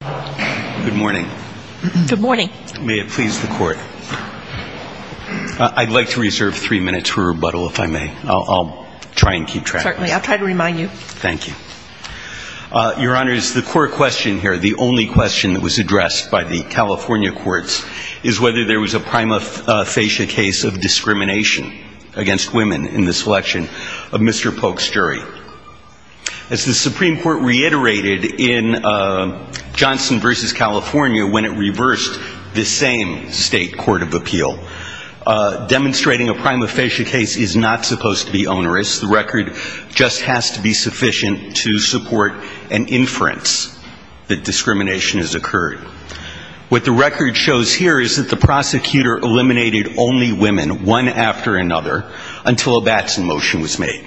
Good morning. May it please the court. I'd like to reserve three minutes for rebuttal if I may. I'll try and keep track. Certainly. I'll try to remind you. Thank you. Your Honor, the core question here, the only question that was addressed by the California courts is whether there was a prima facie case of discrimination against women in this election of Mr. Polk's jury. As the Supreme Court reiterated in Johnson v. California when it reversed the same state court of appeal, demonstrating a prima facie case is not supposed to be onerous. The record just has to be sufficient to support an inference that discrimination has occurred. What the record shows here is that the prosecutor eliminated only women one after another until a Batson motion was made.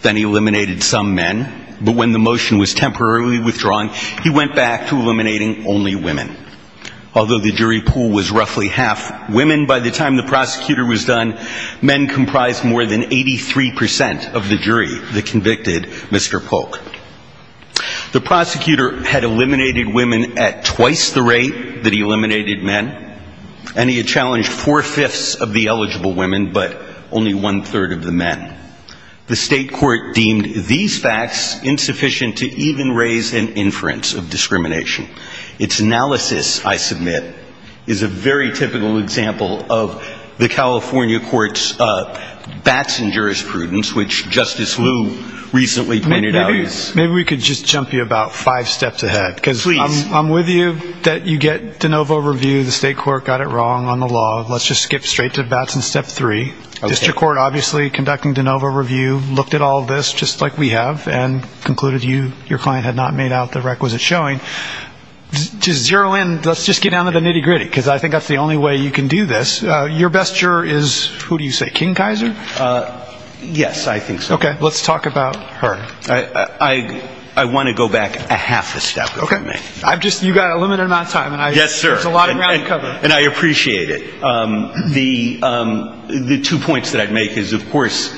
Then he eliminated some men. But when the motion was temporarily withdrawn, he went back to eliminating only women. Although the jury pool was roughly half women by the time the prosecutor was done, men comprised more than 83% of the jury that convicted Mr. Polk. The prosecutor had eliminated women at twice the rate that he eliminated one-third of the men. The state court deemed these facts insufficient to even raise an inference of discrimination. Its analysis, I submit, is a very typical example of the California court's Batson jurisprudence, which Justice Liu recently pointed out. Maybe we could just jump you about five steps ahead. Please. I'm with you that you get de novo review. The state court got it wrong on the law. Let's just get down to the nitty-gritty. I think that's the only way you can do this. Your best juror is, who do you say, King Kaiser? Yes, I think so. Okay. Let's talk about her. I want to go back a half a step if you may. You've got a limited amount of time. Yes, sir. There's a lot of ground to cover. And I appreciate it. The two points that I'd make is, of course,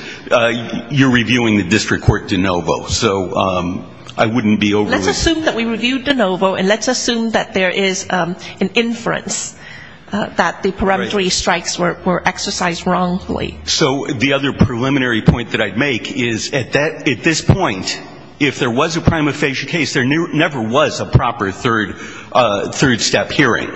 you're reviewing the district court de novo. So I wouldn't be overlooking that. Let's assume that we reviewed de novo, and let's assume that there is an inference that the peremptory strikes were exercised wrongly. So the other preliminary point that I'd make is, at this point, if there was a prima facie case, there never was a proper third step hearing.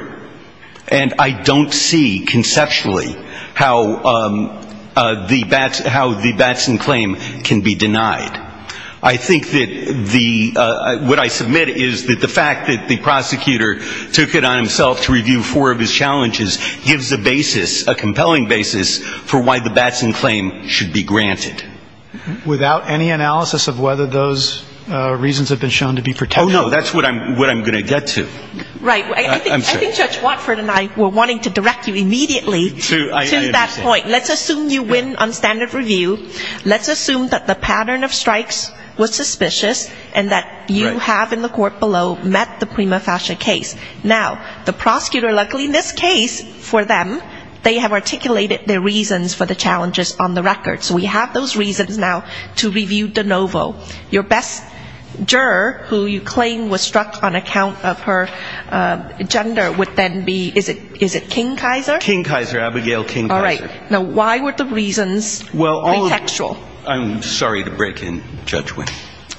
And I don't see conceptually how the Batson claim can be denied. I think that the – what I submit is that the fact that the prosecutor took it on himself to review four of his challenges gives a basis, a compelling basis, for why the Batson claim should be granted. Without any analysis of whether those reasons have been shown to be protective. Oh, no. That's what I'm going to get to. Right. I think Judge Watford and I were wanting to direct you immediately to that point. Let's assume you win on standard review. Let's assume that the pattern of strikes was suspicious and that you have in the court below met the prima facie case. Now, the prosecutor, luckily in this case, for them, they have articulated their reasons for the challenges on the record. So we have those reasons now to review de novo. Your best juror, who you claim was struck on account of her gender, would then be – is it King-Kaiser? King-Kaiser. Abigail King-Kaiser. All right. Now, why were the reasons pretextual? I'm sorry to break in, Judge Witt.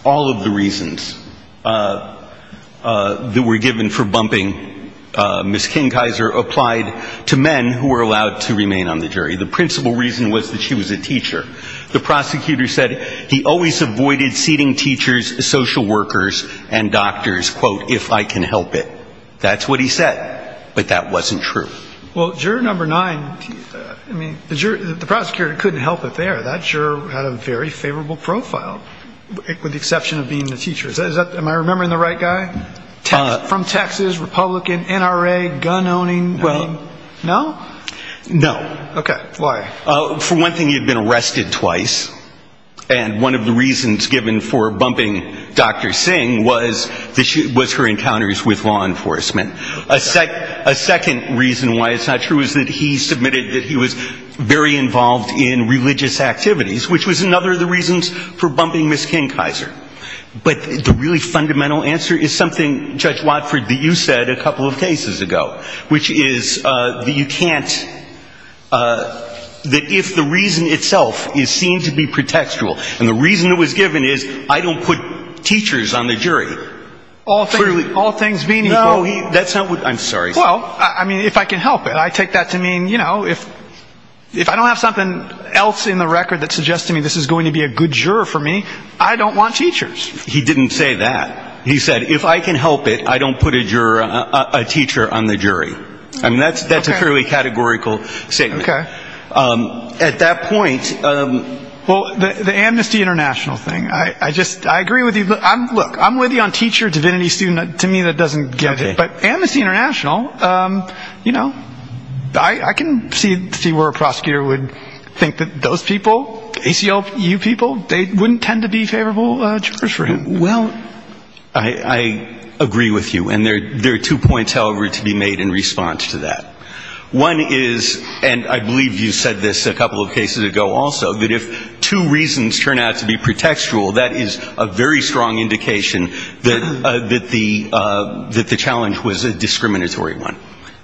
All of the reasons that were given for bumping Ms. King-Kaiser applied to men who were allowed to remain on the jury. The principal reason was that she was a teacher. The prosecutor said he always avoided seating teachers, social workers, and doctors, quote, if I can help it. That's what he said. But that wasn't true. Well, juror number nine, I mean, the prosecutor couldn't help it there. That juror had a very favorable profile, with the exception of being the teacher. Am I remembering the right guy? From Texas, Republican, NRA, gun-owning? No. No? No. Okay. Why? For one thing, he had been arrested twice. And one of the reasons given for bumping Dr. Singh was her encounters with law enforcement. Okay. A second reason why it's not true is that he submitted that he was very involved in religious activities, which was another of the reasons for bumping Ms. King-Kaiser. But the really fundamental answer is something, Judge Watford, that you said a couple of cases ago, which is that you can't – that if the reason itself is seen to be pretextual, and the reason it was given is I don't put teachers on the jury. All things being equal. No, that's not what – I'm sorry. Well, I mean, if I can help it. I take that to mean, you know, if I don't have something else in the record that suggests to me this is going to be a good juror for me, I don't want teachers. He didn't say that. He said, if I can help it, I don't put a juror – a teacher on the jury. I mean, that's a fairly categorical statement. Okay. At that point – Well, the Amnesty International thing. I just – I agree with you. Look, I'm with you on teacher, divinity, student. To me, that doesn't get it. But Amnesty International, you know, I can see where a prosecutor would think that those people, ACLU people, they would be good judges for him. Well, I agree with you. And there are two points, however, to be made in response to that. One is – and I believe you said this a couple of cases ago also, that if two reasons turn out to be pretextual, that is a very strong indication that the challenge was a discriminatory one.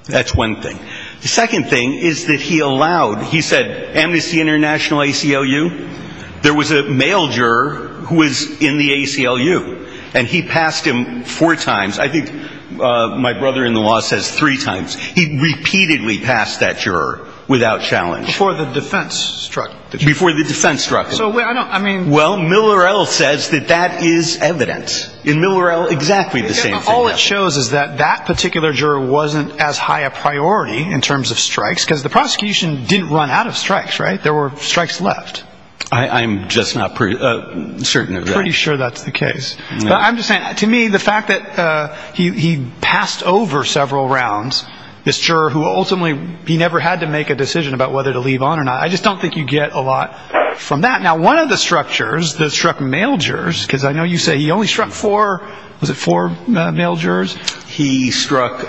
That's one thing. The second thing is that he allowed – he said, Amnesty International, ACLU. There was a male juror who was in the ACLU. And he passed him four times. I think my brother in the law says three times. He repeatedly passed that juror without challenge. Before the defense struck. Before the defense struck him. I mean – Well, Miller L. says that that is evidence. In Miller L., exactly the same thing. All it shows is that that particular juror wasn't as high a priority in terms of strikes, because the prosecution didn't run out of strikes, right? There were strikes left. I'm just not certain of that. Pretty sure that's the case. But I'm just saying, to me, the fact that he passed over several rounds, this juror who ultimately – he never had to make a decision about whether to leave on or not. I just don't think you get a lot from that. Now, one of the structures that struck male jurors – because I know you say he only struck four – was it four male jurors? He struck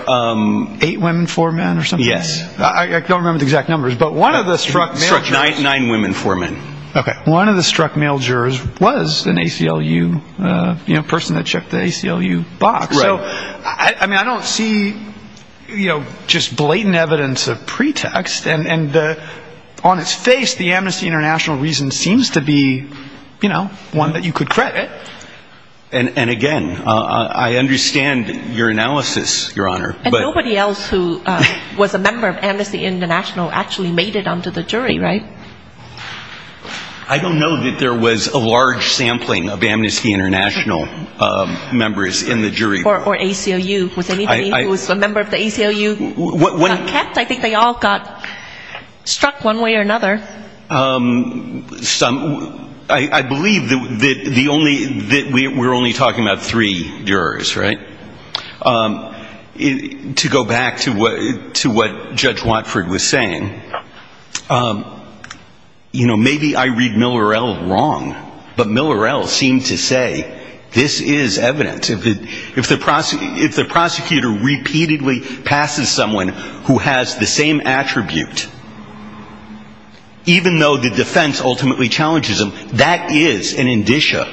– Eight women, four men or something? Yes. I don't remember the exact numbers. But one of the – He struck nine women, four men. Okay. One of the struck male jurors was an ACLU person that checked the ACLU box. Right. So, I mean, I don't see, you know, just blatant evidence of pretext. And on its face, the Amnesty International reason seems to be, you know, one that you could credit. And again, I understand your analysis, Your Honor, but – I don't know that there was a large sampling of Amnesty International members in the jury. Or ACLU. Was anybody who was a member of the ACLU kept? When – I think they all got struck one way or another. Some – I believe that the only – that we're only talking about three jurors, right? To go back to what Judge Watford was saying, you know, maybe I read Miller-El wrong, but Miller-El seemed to say this is evidence. If the prosecutor repeatedly passes someone who has the same attribute, even though the defense ultimately challenges them, that is an indicia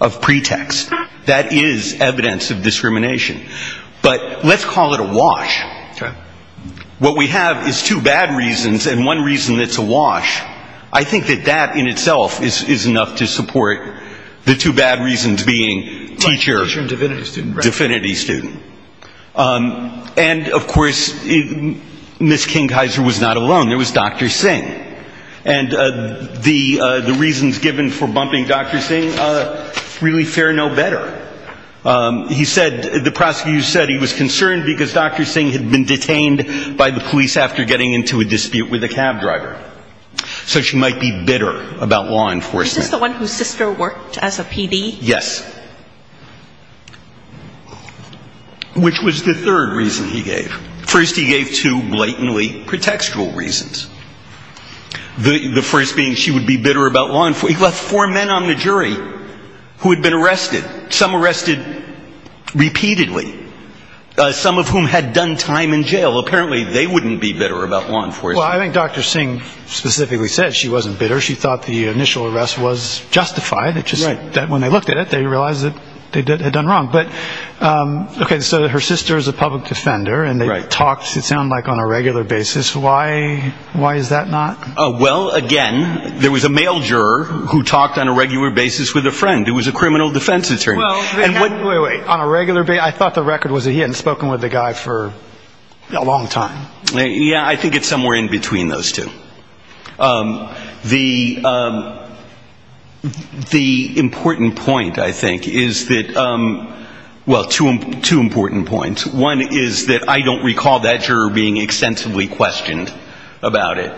of pretext. That is evidence of discrimination. But let's call it a wash. Okay. What we have is two bad reasons, and one reason that's a wash. I think that that in itself is enough to support the two bad reasons being teacher – Teacher and divinity student, right. Divinity student. And, of course, Ms. Kingheiser was not alone. There was Dr. Singh. And the reasons given for bumping Dr. Singh really fare no better. He said – the prosecutor said he was concerned because Dr. Singh had been detained by the police after getting into a dispute with a cab driver. So she might be bitter about law enforcement. Is this the one whose sister worked as a PD? Yes. Which was the third reason he gave. First he gave two blatantly pretextual reasons. The first being she would be bitter about law enforcement. He left four men on the jury who had been arrested. Some arrested repeatedly. Some of whom had done time in jail. Apparently they wouldn't be bitter about law enforcement. Well, I think Dr. Singh specifically said she wasn't bitter. She thought the initial arrest was justified. It's just that when they looked at it, they realized that they had done wrong. Okay, so her sister is a public defender. And they talked, it sounded like, on a regular basis. Why is that not? Well, again, there was a male juror who talked on a regular basis with a friend who was a criminal defense attorney. Wait, wait, wait. On a regular basis? I thought the record was that he hadn't spoken with the guy for a long time. Yeah, I think it's somewhere in between those two. The important point, I think, is that, well, two important points. One is that I don't recall that juror being extensively questioned about it.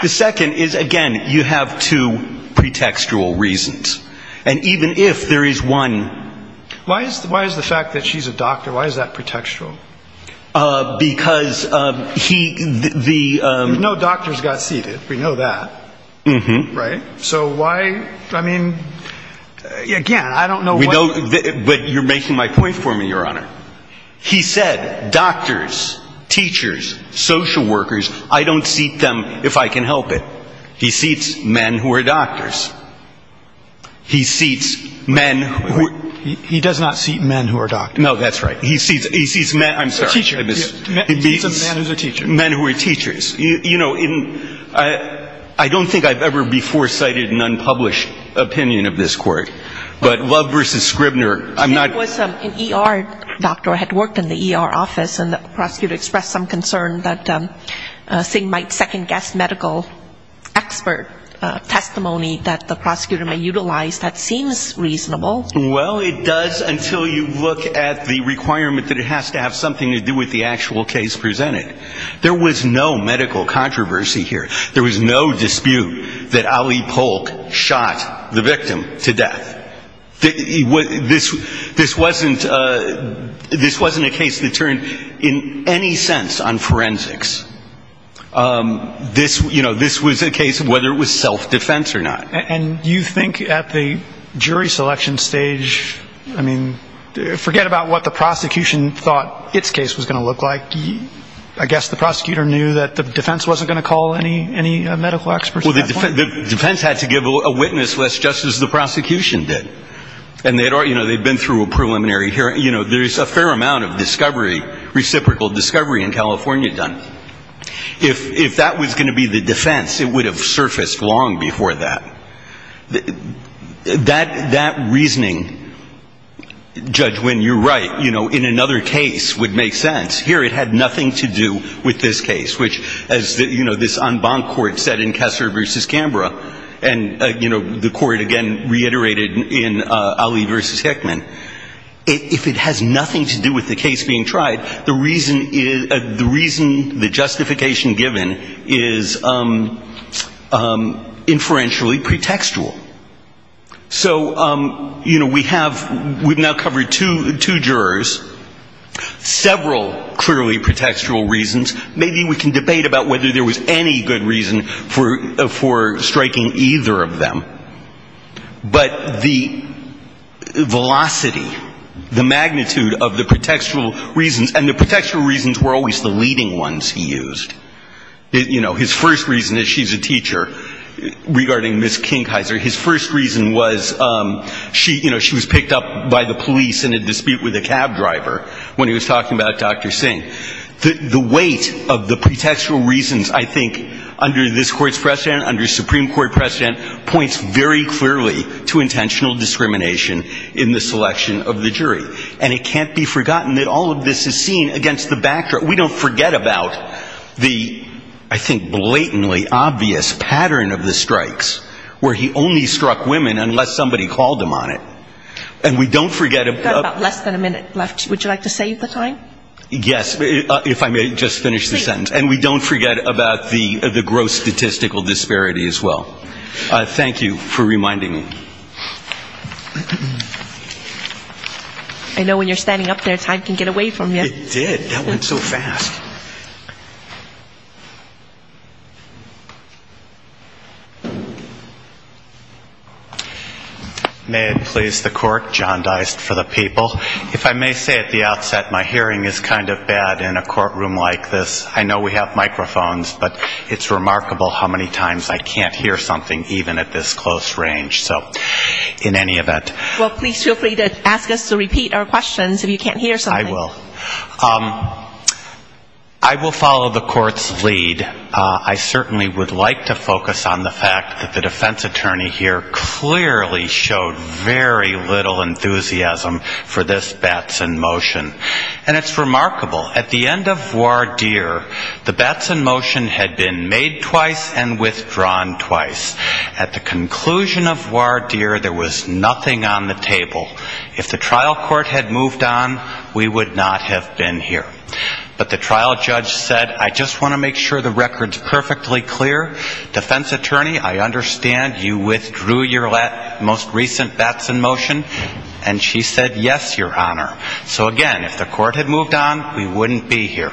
The second is, again, you have two pretextual reasons. And even if there is one. Why is the fact that she's a doctor, why is that pretextual? Because he, the. No doctors got seated. We know that. Right. So why, I mean, again, I don't know. But you're making my point for me, Your Honor. He said doctors, teachers, social workers, I don't seat them if I can help it. He seats men who are doctors. He seats men. He does not seat men who are doctors. No, that's right. He seats men. I'm sorry. He seats men who are teachers. You know, I don't think I've ever before cited an unpublished opinion of this court. But Love v. Scribner, I'm not. It was an ER doctor who had worked in the ER office, and the prosecutor expressed some concern that Singh might second-guess medical expert testimony that the prosecutor may utilize. That seems reasonable. Well, it does until you look at the requirement that it has to have something to do with the actual case presented. There was no medical controversy here. There was no dispute that Ali Polk shot the victim to death. This wasn't a case that turned in any sense on forensics. This was a case of whether it was self-defense or not. And you think at the jury selection stage, I mean, forget about what the prosecution thought its case was going to look like. I guess the prosecutor knew that the defense wasn't going to call any medical experts. Well, the defense had to give a witness list just as the prosecution did. And, you know, they'd been through a preliminary hearing. You know, there's a fair amount of discovery, reciprocal discovery in California done. If that was going to be the defense, it would have surfaced long before that. That reasoning, Judge Winn, you're right, you know, in another case would make sense. Here it had nothing to do with this case, which, as, you know, this en banc court said in Kessler v. Canberra, and, you know, the court again reiterated in Ali v. Hickman, if it has nothing to do with the case being tried, the reason the justification given is inferentially pretextual. So, you know, we have, we've now covered two jurors, several clearly pretextual reasons. Maybe we can debate about whether there was any good reason for striking either of them. But the velocity, the magnitude of the pretextual reasons, and the pretextual reasons were always the leading ones he used. You know, his first reason is she's a teacher. Regarding Ms. Kingheiser, his first reason was, you know, she was picked up by the police in a dispute with a cab driver when he was talking about Dr. Singh. The weight of the pretextual reasons, I think, under this Court's precedent, under Supreme Court precedent, points very clearly to intentional discrimination in the selection of the jury. And it can't be forgotten that all of this is seen against the backdrop, we don't forget about the, I think, blatantly obvious pattern of the strikes, where he only struck women unless somebody called him on it. And we don't forget about the gross statistical disparity as well. Thank you for reminding me. I know when you're standing up there, time can get away from you. May it please the Court, John Deist for the people. If I may say at the outset, my hearing is kind of bad in a courtroom like this. I know we have microphones, but it's remarkable how many times I can't hear something even at this close range. So in any event. Well, please feel free to ask us to repeat our questions if you can't hear something. I will. I will follow the Court's lead. I certainly would like to focus on the fact that the defense attorney here clearly showed very little enthusiasm for this Batson motion. And it's remarkable. At the end of voir dire, the Batson motion had been made twice and withdrawn twice. At the conclusion of voir dire, there was nothing on the table. If the trial court had moved on, we would not have been here. But the trial judge said, I just want to make sure the record's perfectly clear. Defense attorney, I understand you withdrew your most recent Batson motion. And she said, yes, Your Honor. So again, if the court had moved on, we wouldn't be here.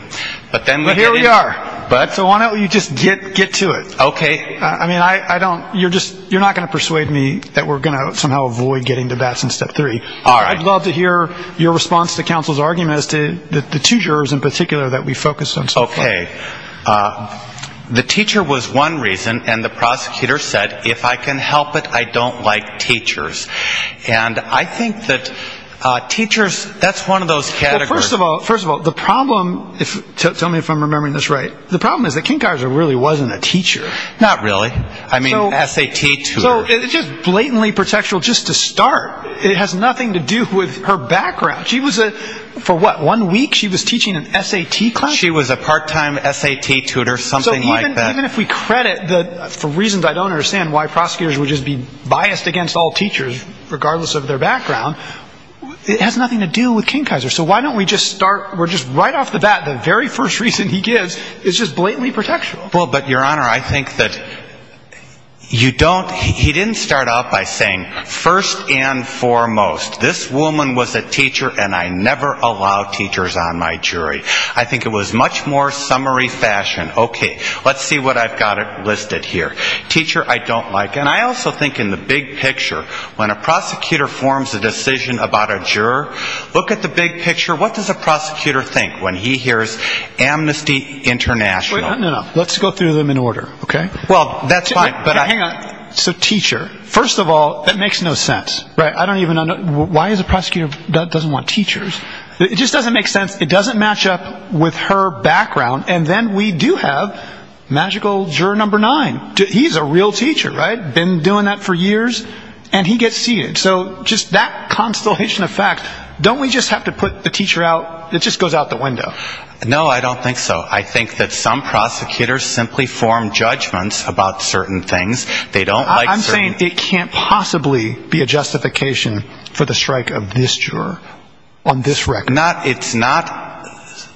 So why don't you just get to it. You're not going to persuade me that we're going to somehow avoid getting to Batson step three. I'd love to hear your response to counsel's argument as to the two jurors in particular that we focused on so far. Okay. The teacher was one reason. And the prosecutor said, if I can help it, I don't like teachers. And I think that teachers, that's one of those categories. First of all, the problem, tell me if I'm remembering this right, the problem is that King Kaiser really wasn't a teacher. Not really. I mean, S.A.T. tutor. It has nothing to do with her background. For what, one week she was teaching an S.A.T. class? She was a part-time S.A.T. tutor, something like that. So even if we credit, for reasons I don't understand, why prosecutors would just be biased against all teachers, regardless of their background, it has nothing to do with King Kaiser. So why don't we just start, we're just right off the bat, the very first reason he gives is just blatantly protection. Well, but, Your Honor, I think that you don't, he didn't start out by saying, first and foremost, this woman was a teacher and I never allow teachers on my jury. I think it was much more summary fashion, okay, let's see what I've got listed here. Teacher, I don't like. And I also think in the big picture, when a prosecutor forms a decision about a juror, look at the big picture. What does a prosecutor think when he hears amnesty international? No, no, let's go through them in order, okay? So teacher, first of all, that makes no sense. Why does a prosecutor not want teachers? It just doesn't make sense, it doesn't match up with her background. And then we do have magical juror number nine. He's a real teacher, right, been doing that for years, and he gets seated. So just that constellation of facts, don't we just have to put the teacher out, it just goes out the window. No, I don't think so. I think that some prosecutors simply form judgments about certain things. I'm saying it can't possibly be a justification for the strike of this juror on this record. It's not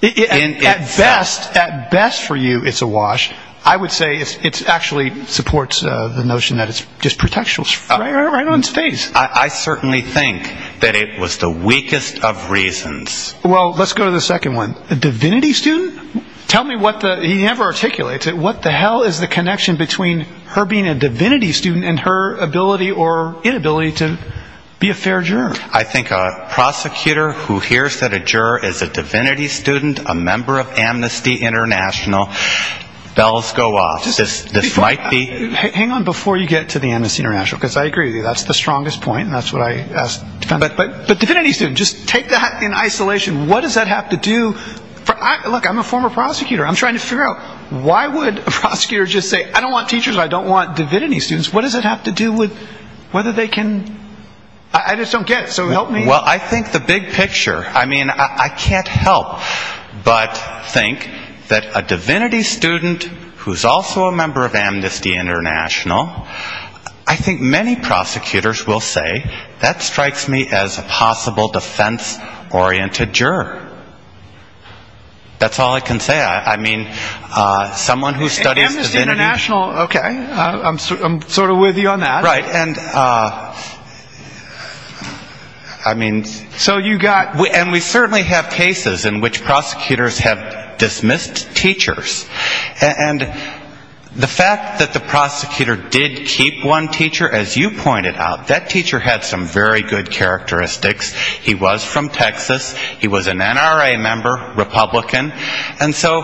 in itself. At best for you it's a wash. I would say it actually supports the notion that it's just protection, right on its face. I certainly think that it was the weakest of reasons. Well, let's go to the second one, a divinity student? He never articulates it, what the hell is the connection between her being a divinity student and her ability or inability to be a fair juror? I think a prosecutor who hears that a juror is a divinity student, a member of amnesty international, bells go off. Hang on before you get to the amnesty international, because I agree with you, that's the strongest point, and that's what I asked. But divinity student, just take that in isolation, what does that have to do, look, I'm a former prosecutor, I'm trying to figure out, why would a prosecutor just say, I don't want teachers, I don't want divinity students, what does that have to do with whether they can, I just don't get it, so help me. Well, I think the big picture, I mean, I can't help but think that a divinity student who's also a member of amnesty international, I think many prosecutors will say, that strikes me as a possible defense-oriented juror. That's all I can say, I mean, someone who studies divinity. Amnesty international, okay, I'm sort of with you on that. Right, and I mean. So you got. And we certainly have cases in which prosecutors have dismissed teachers. And the fact that the prosecutor did keep one teacher, as you pointed out, that teacher had some very good characteristics. He was from Texas, he was an NRA member, Republican, and so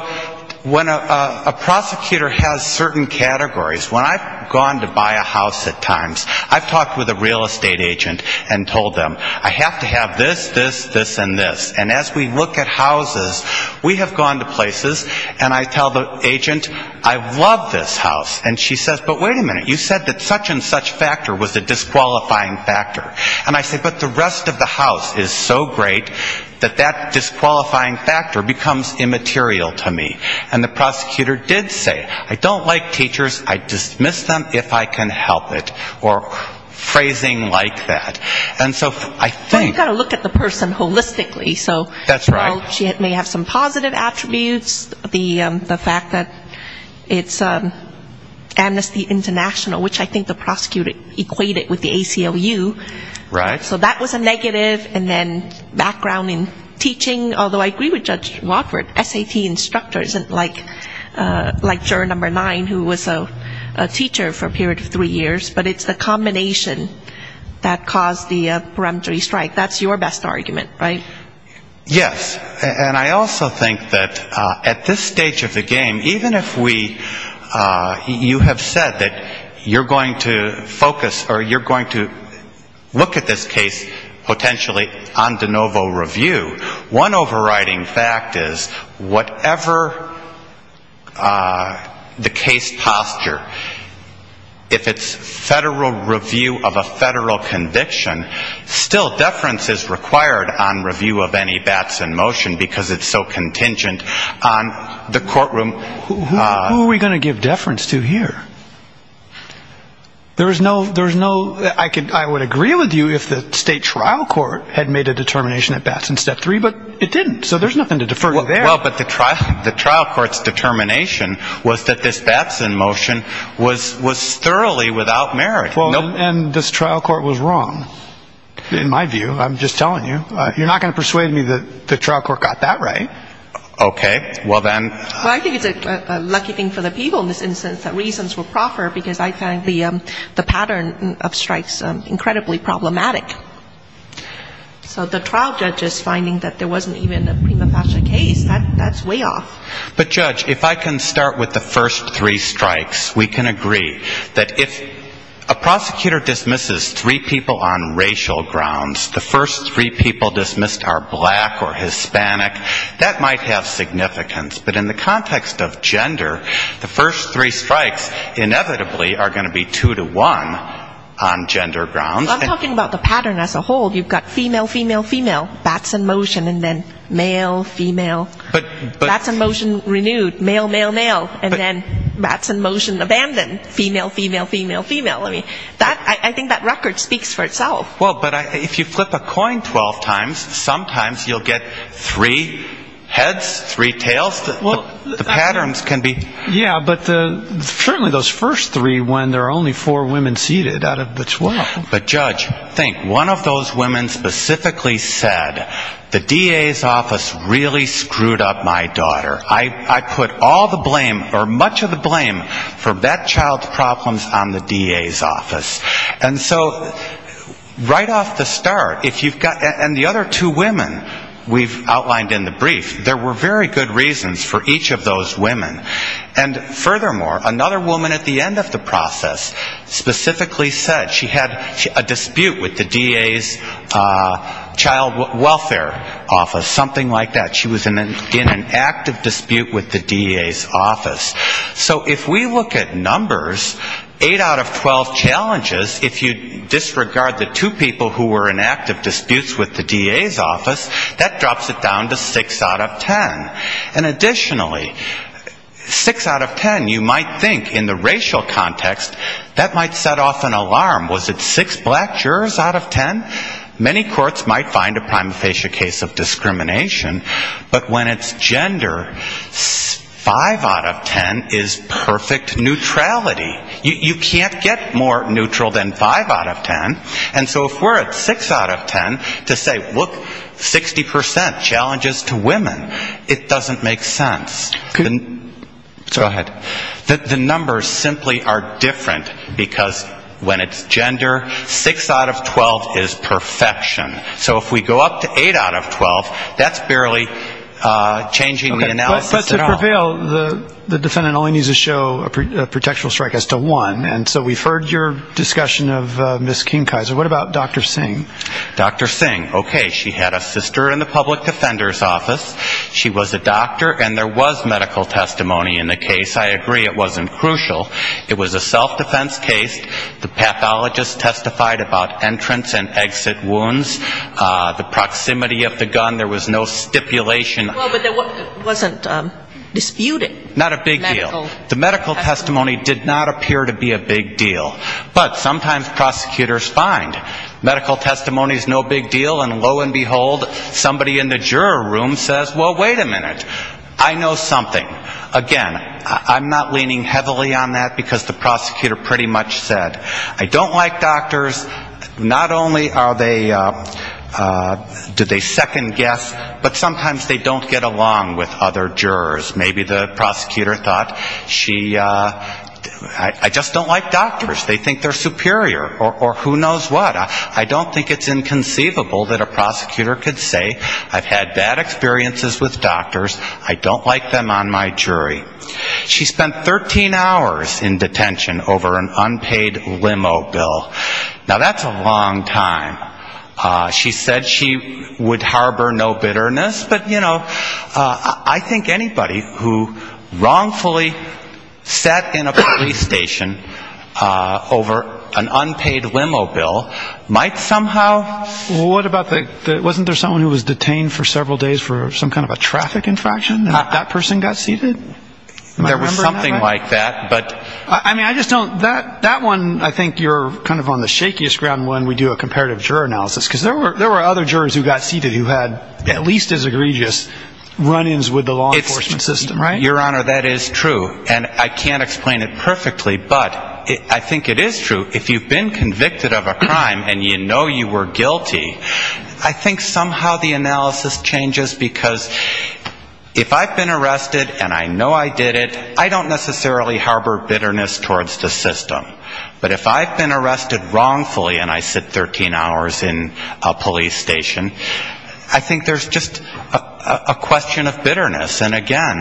when a prosecutor has certain categories, when I've gone to buy a house at times, I've talked with a real estate agent and told them, I have to have this, this, this, and this. And as we look at houses, we have gone to places and I tell the agent, I love this house. And she says, but wait a minute, you said that such and such factor was a disqualifying factor. And I say, but the rest of the house is so great that that disqualifying factor becomes immaterial to me. And the prosecutor did say, I don't like teachers, I dismiss them if I can help it. Or phrasing like that. And so I think. Well, you've got to look at the person holistically. That's right. So she may have some positive attributes, the fact that it's Amnesty International, which I think the prosecutor equated with the ACLU. So that was a negative. And then background in teaching, although I agree with Judge Watford, SAT instructor isn't like juror number nine who was a teacher for a period of three years. But it's the combination that caused the peremptory strike. That's your best argument, right? Yes. And I also think that at this stage of the game, even if we you have said that you're going to focus or you're going to look at this case potentially on de novo review, one overriding fact is whatever the case posture, if it's federal review of a federal conviction, still deference is required on review of any bats in motion because it's so contingent on the courtroom. Who are we going to give deference to here? There is no there's no I could I would agree with you if the state trial court had made a determination at bats in step three. But it didn't. So there's nothing to defer. Well, but the trial the trial court's determination was that this bats in motion was was thoroughly without merit. And this trial court was wrong. In my view, I'm just telling you, you're not going to persuade me that the trial court got that right. Okay. Well, then I think it's a lucky thing for the people in this instance that reasons will proffer because I find the pattern of strikes incredibly problematic. So the trial judge is finding that there wasn't even a prima facie case. That's way off. But, Judge, if I can start with the first three strikes, we can agree that if a prosecutor dismisses three people on racial grounds, the first three people dismissed are black or Hispanic, that might have significance. But in the context of gender, the first three strikes inevitably are going to be two to one on gender grounds. Well, I'm talking about the pattern as a whole. You've got female, female, female, bats in motion, and then male, female, bats in motion renewed, male, male, male, and then bats in motion abandoned, female, female, female, female. I think that record speaks for itself. Well, but if you flip a coin 12 times, sometimes you'll get three heads, three tails. The patterns can be ---- Yeah, but certainly those first three when there are only four women seated out of the 12. But, Judge, think, one of those women specifically said, the DA's office really screwed up my daughter. I put all the blame or much of the blame for bat child problems on the DA's office. And so right off the start, if you've got the other two women we've outlined in the brief, there were very good reasons for each of those women. And furthermore, another woman at the end of the process specifically said she had a dispute with the DA's child welfare office, something like that. She was in an active dispute with the DA's office. So if we look at numbers, eight out of 12 challenges, if you disregard the two people who were in active disputes with the DA's office, that additionally, six out of ten, you might think in the racial context, that might set off an alarm. Was it six black jurors out of ten? Many courts might find a prima facie case of discrimination, but when it's gender, five out of ten is perfect neutrality. You can't get more neutral than five out of ten. And so if we're at six out of ten to say, look, 60% challenges to women, it doesn't make sense. Go ahead. The numbers simply are different, because when it's gender, six out of 12 is perfection. So if we go up to eight out of 12, that's barely changing the analysis at all. But to prevail, the defendant only needs to show a protection strike as to one. And so we've heard your discussion of Ms. Kingkaiser. What about Dr. Singh? Dr. Singh, okay, she had a sister in the public defender's office. She was a doctor, and there was medical testimony in the case. I agree, it wasn't crucial. It was a self-defense case. The pathologist testified about entrance and exit wounds. The proximity of the gun, there was no stipulation. Well, but it wasn't disputed. Not a big deal. The medical testimony did not appear to be a big deal. But sometimes prosecutors find medical testimony is no big deal, and lo and behold, somebody in the juror room says, well, wait a minute, I know something. Again, I'm not leaning heavily on that, because the prosecutor pretty much said, I don't like doctors. Not only are they do they second guess, but sometimes they don't get along with other jurors. Maybe the prosecutor thought she, I just don't like doctors. They think they're superior, or who knows what. I don't think it's inconceivable that a prosecutor could say I've had bad experiences with doctors, I don't like them on my jury. She spent 13 hours in detention over an unpaid limo bill. Now, that's a long time. She said she would harbor no bitterness. But, you know, I think anybody who wrongfully sat in a police station over an unpaid limo bill might somehow ‑‑ What about the, wasn't there someone who was detained for several days for some kind of a traffic infraction, and that person got seated? There was something like that. I mean, I just don't, that one, I think you're kind of on the shakiest ground when we do a comparative juror analysis. Because there were other jurors who got seated who had at least as egregious run-ins with the law enforcement system, right? Your Honor, that is true. And I can't explain it perfectly, but I think it is true. If you've been convicted of a crime and you know you were guilty, I think somehow the analysis changes. Because if I've been arrested and I know I did it, I don't necessarily harbor bitterness towards the system. But if I've been arrested wrongfully and I sit 13 hours in a police station, I think there's just a question of bitterness. And, again,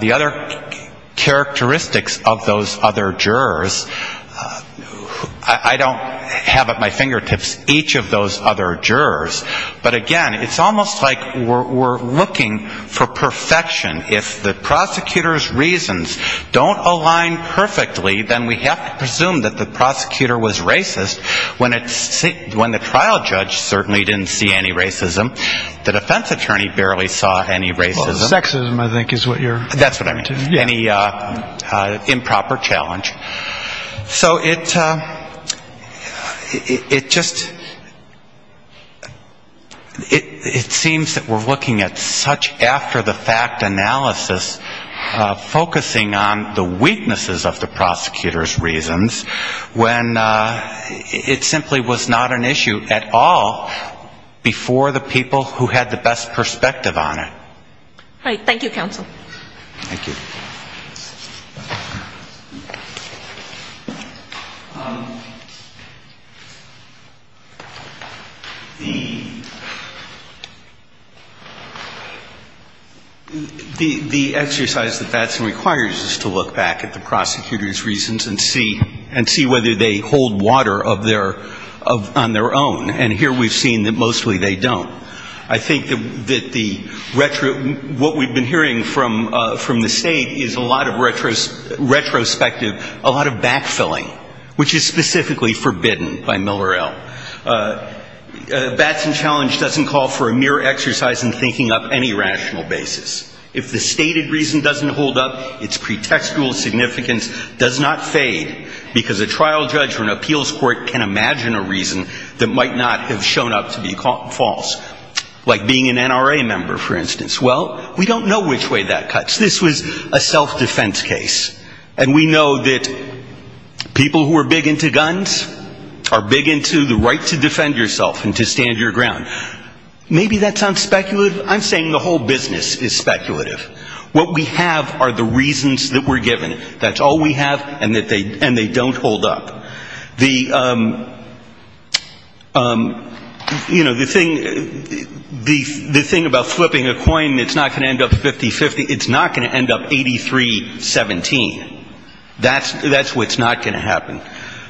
the other characteristics of those other jurors, I don't have at my fingertips each of those other jurors. But, again, it's almost like we're looking for perfection. If the prosecutor's reasons don't align perfectly, then we have to presume that the prosecutor was racist. When the trial judge certainly didn't see any racism, the defense attorney barely saw any racism. Sexism, I think, is what you're referring to. That's what I mean, any improper challenge. It seems that we're looking at such after-the-fact analysis, focusing on the weaknesses of the prosecutor's reasons, when it simply was not an issue at all before the people who had the best perspective on it. Thank you, counsel. The exercise that Batson requires is to look back at the prosecutor's reasons and see whether they hold water on their own. And here we've seen that mostly they don't. I think that the retro, what we've been hearing from the State is a lot of retrospective, a lot of backfilling, which is that the challenge doesn't call for a mere exercise in thinking up any rational basis. If the stated reason doesn't hold up, its pretextual significance does not fade, because a trial judge or an appeals court can imagine a reason that might not have shown up to be false. Like being an NRA member, for instance. Well, we don't know which way that cuts. This was a self-defense case. And we know that people who are big into guns are big into the right to defend yourself and to defend others. Maybe that's unspeculative. I'm saying the whole business is speculative. What we have are the reasons that we're given. That's all we have, and they don't hold up. You know, the thing about flipping a coin, it's not going to end up 50-50. It's not going to end up 83-17. That's what's not going to happen.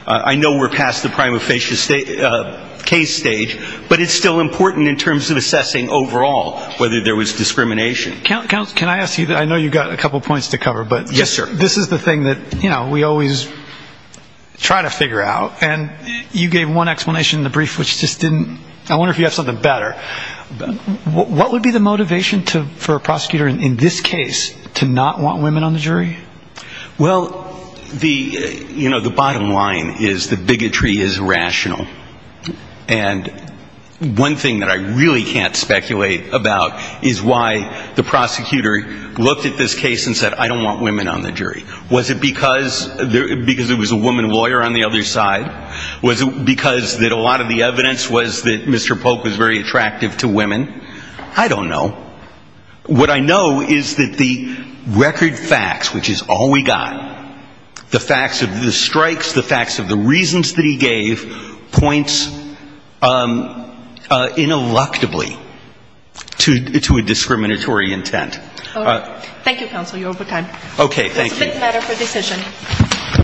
I know we're past the prima facie case stage, but it's still important to assess overall whether there was discrimination. I know you've got a couple of points to cover, but this is the thing that we always try to figure out. And you gave one explanation in the brief, which just didn't, I wonder if you have something better. What would be the motivation for a prosecutor in this case to not want women on the jury? Well, you know, the bottom line is that bigotry is rational. And one thing that I really can't speculate about is why the prosecutor looked at this case and said, I don't want women on the jury. Was it because it was a woman lawyer on the other side? Was it because that a lot of the evidence was that Mr. Polk was very attractive to women? I don't know. What I know is that the record facts, which is all we got, the facts of the strikes, the facts of the reasons that he gave, points ineluctably to a discriminatory intent. Thank you, counsel. You're over time.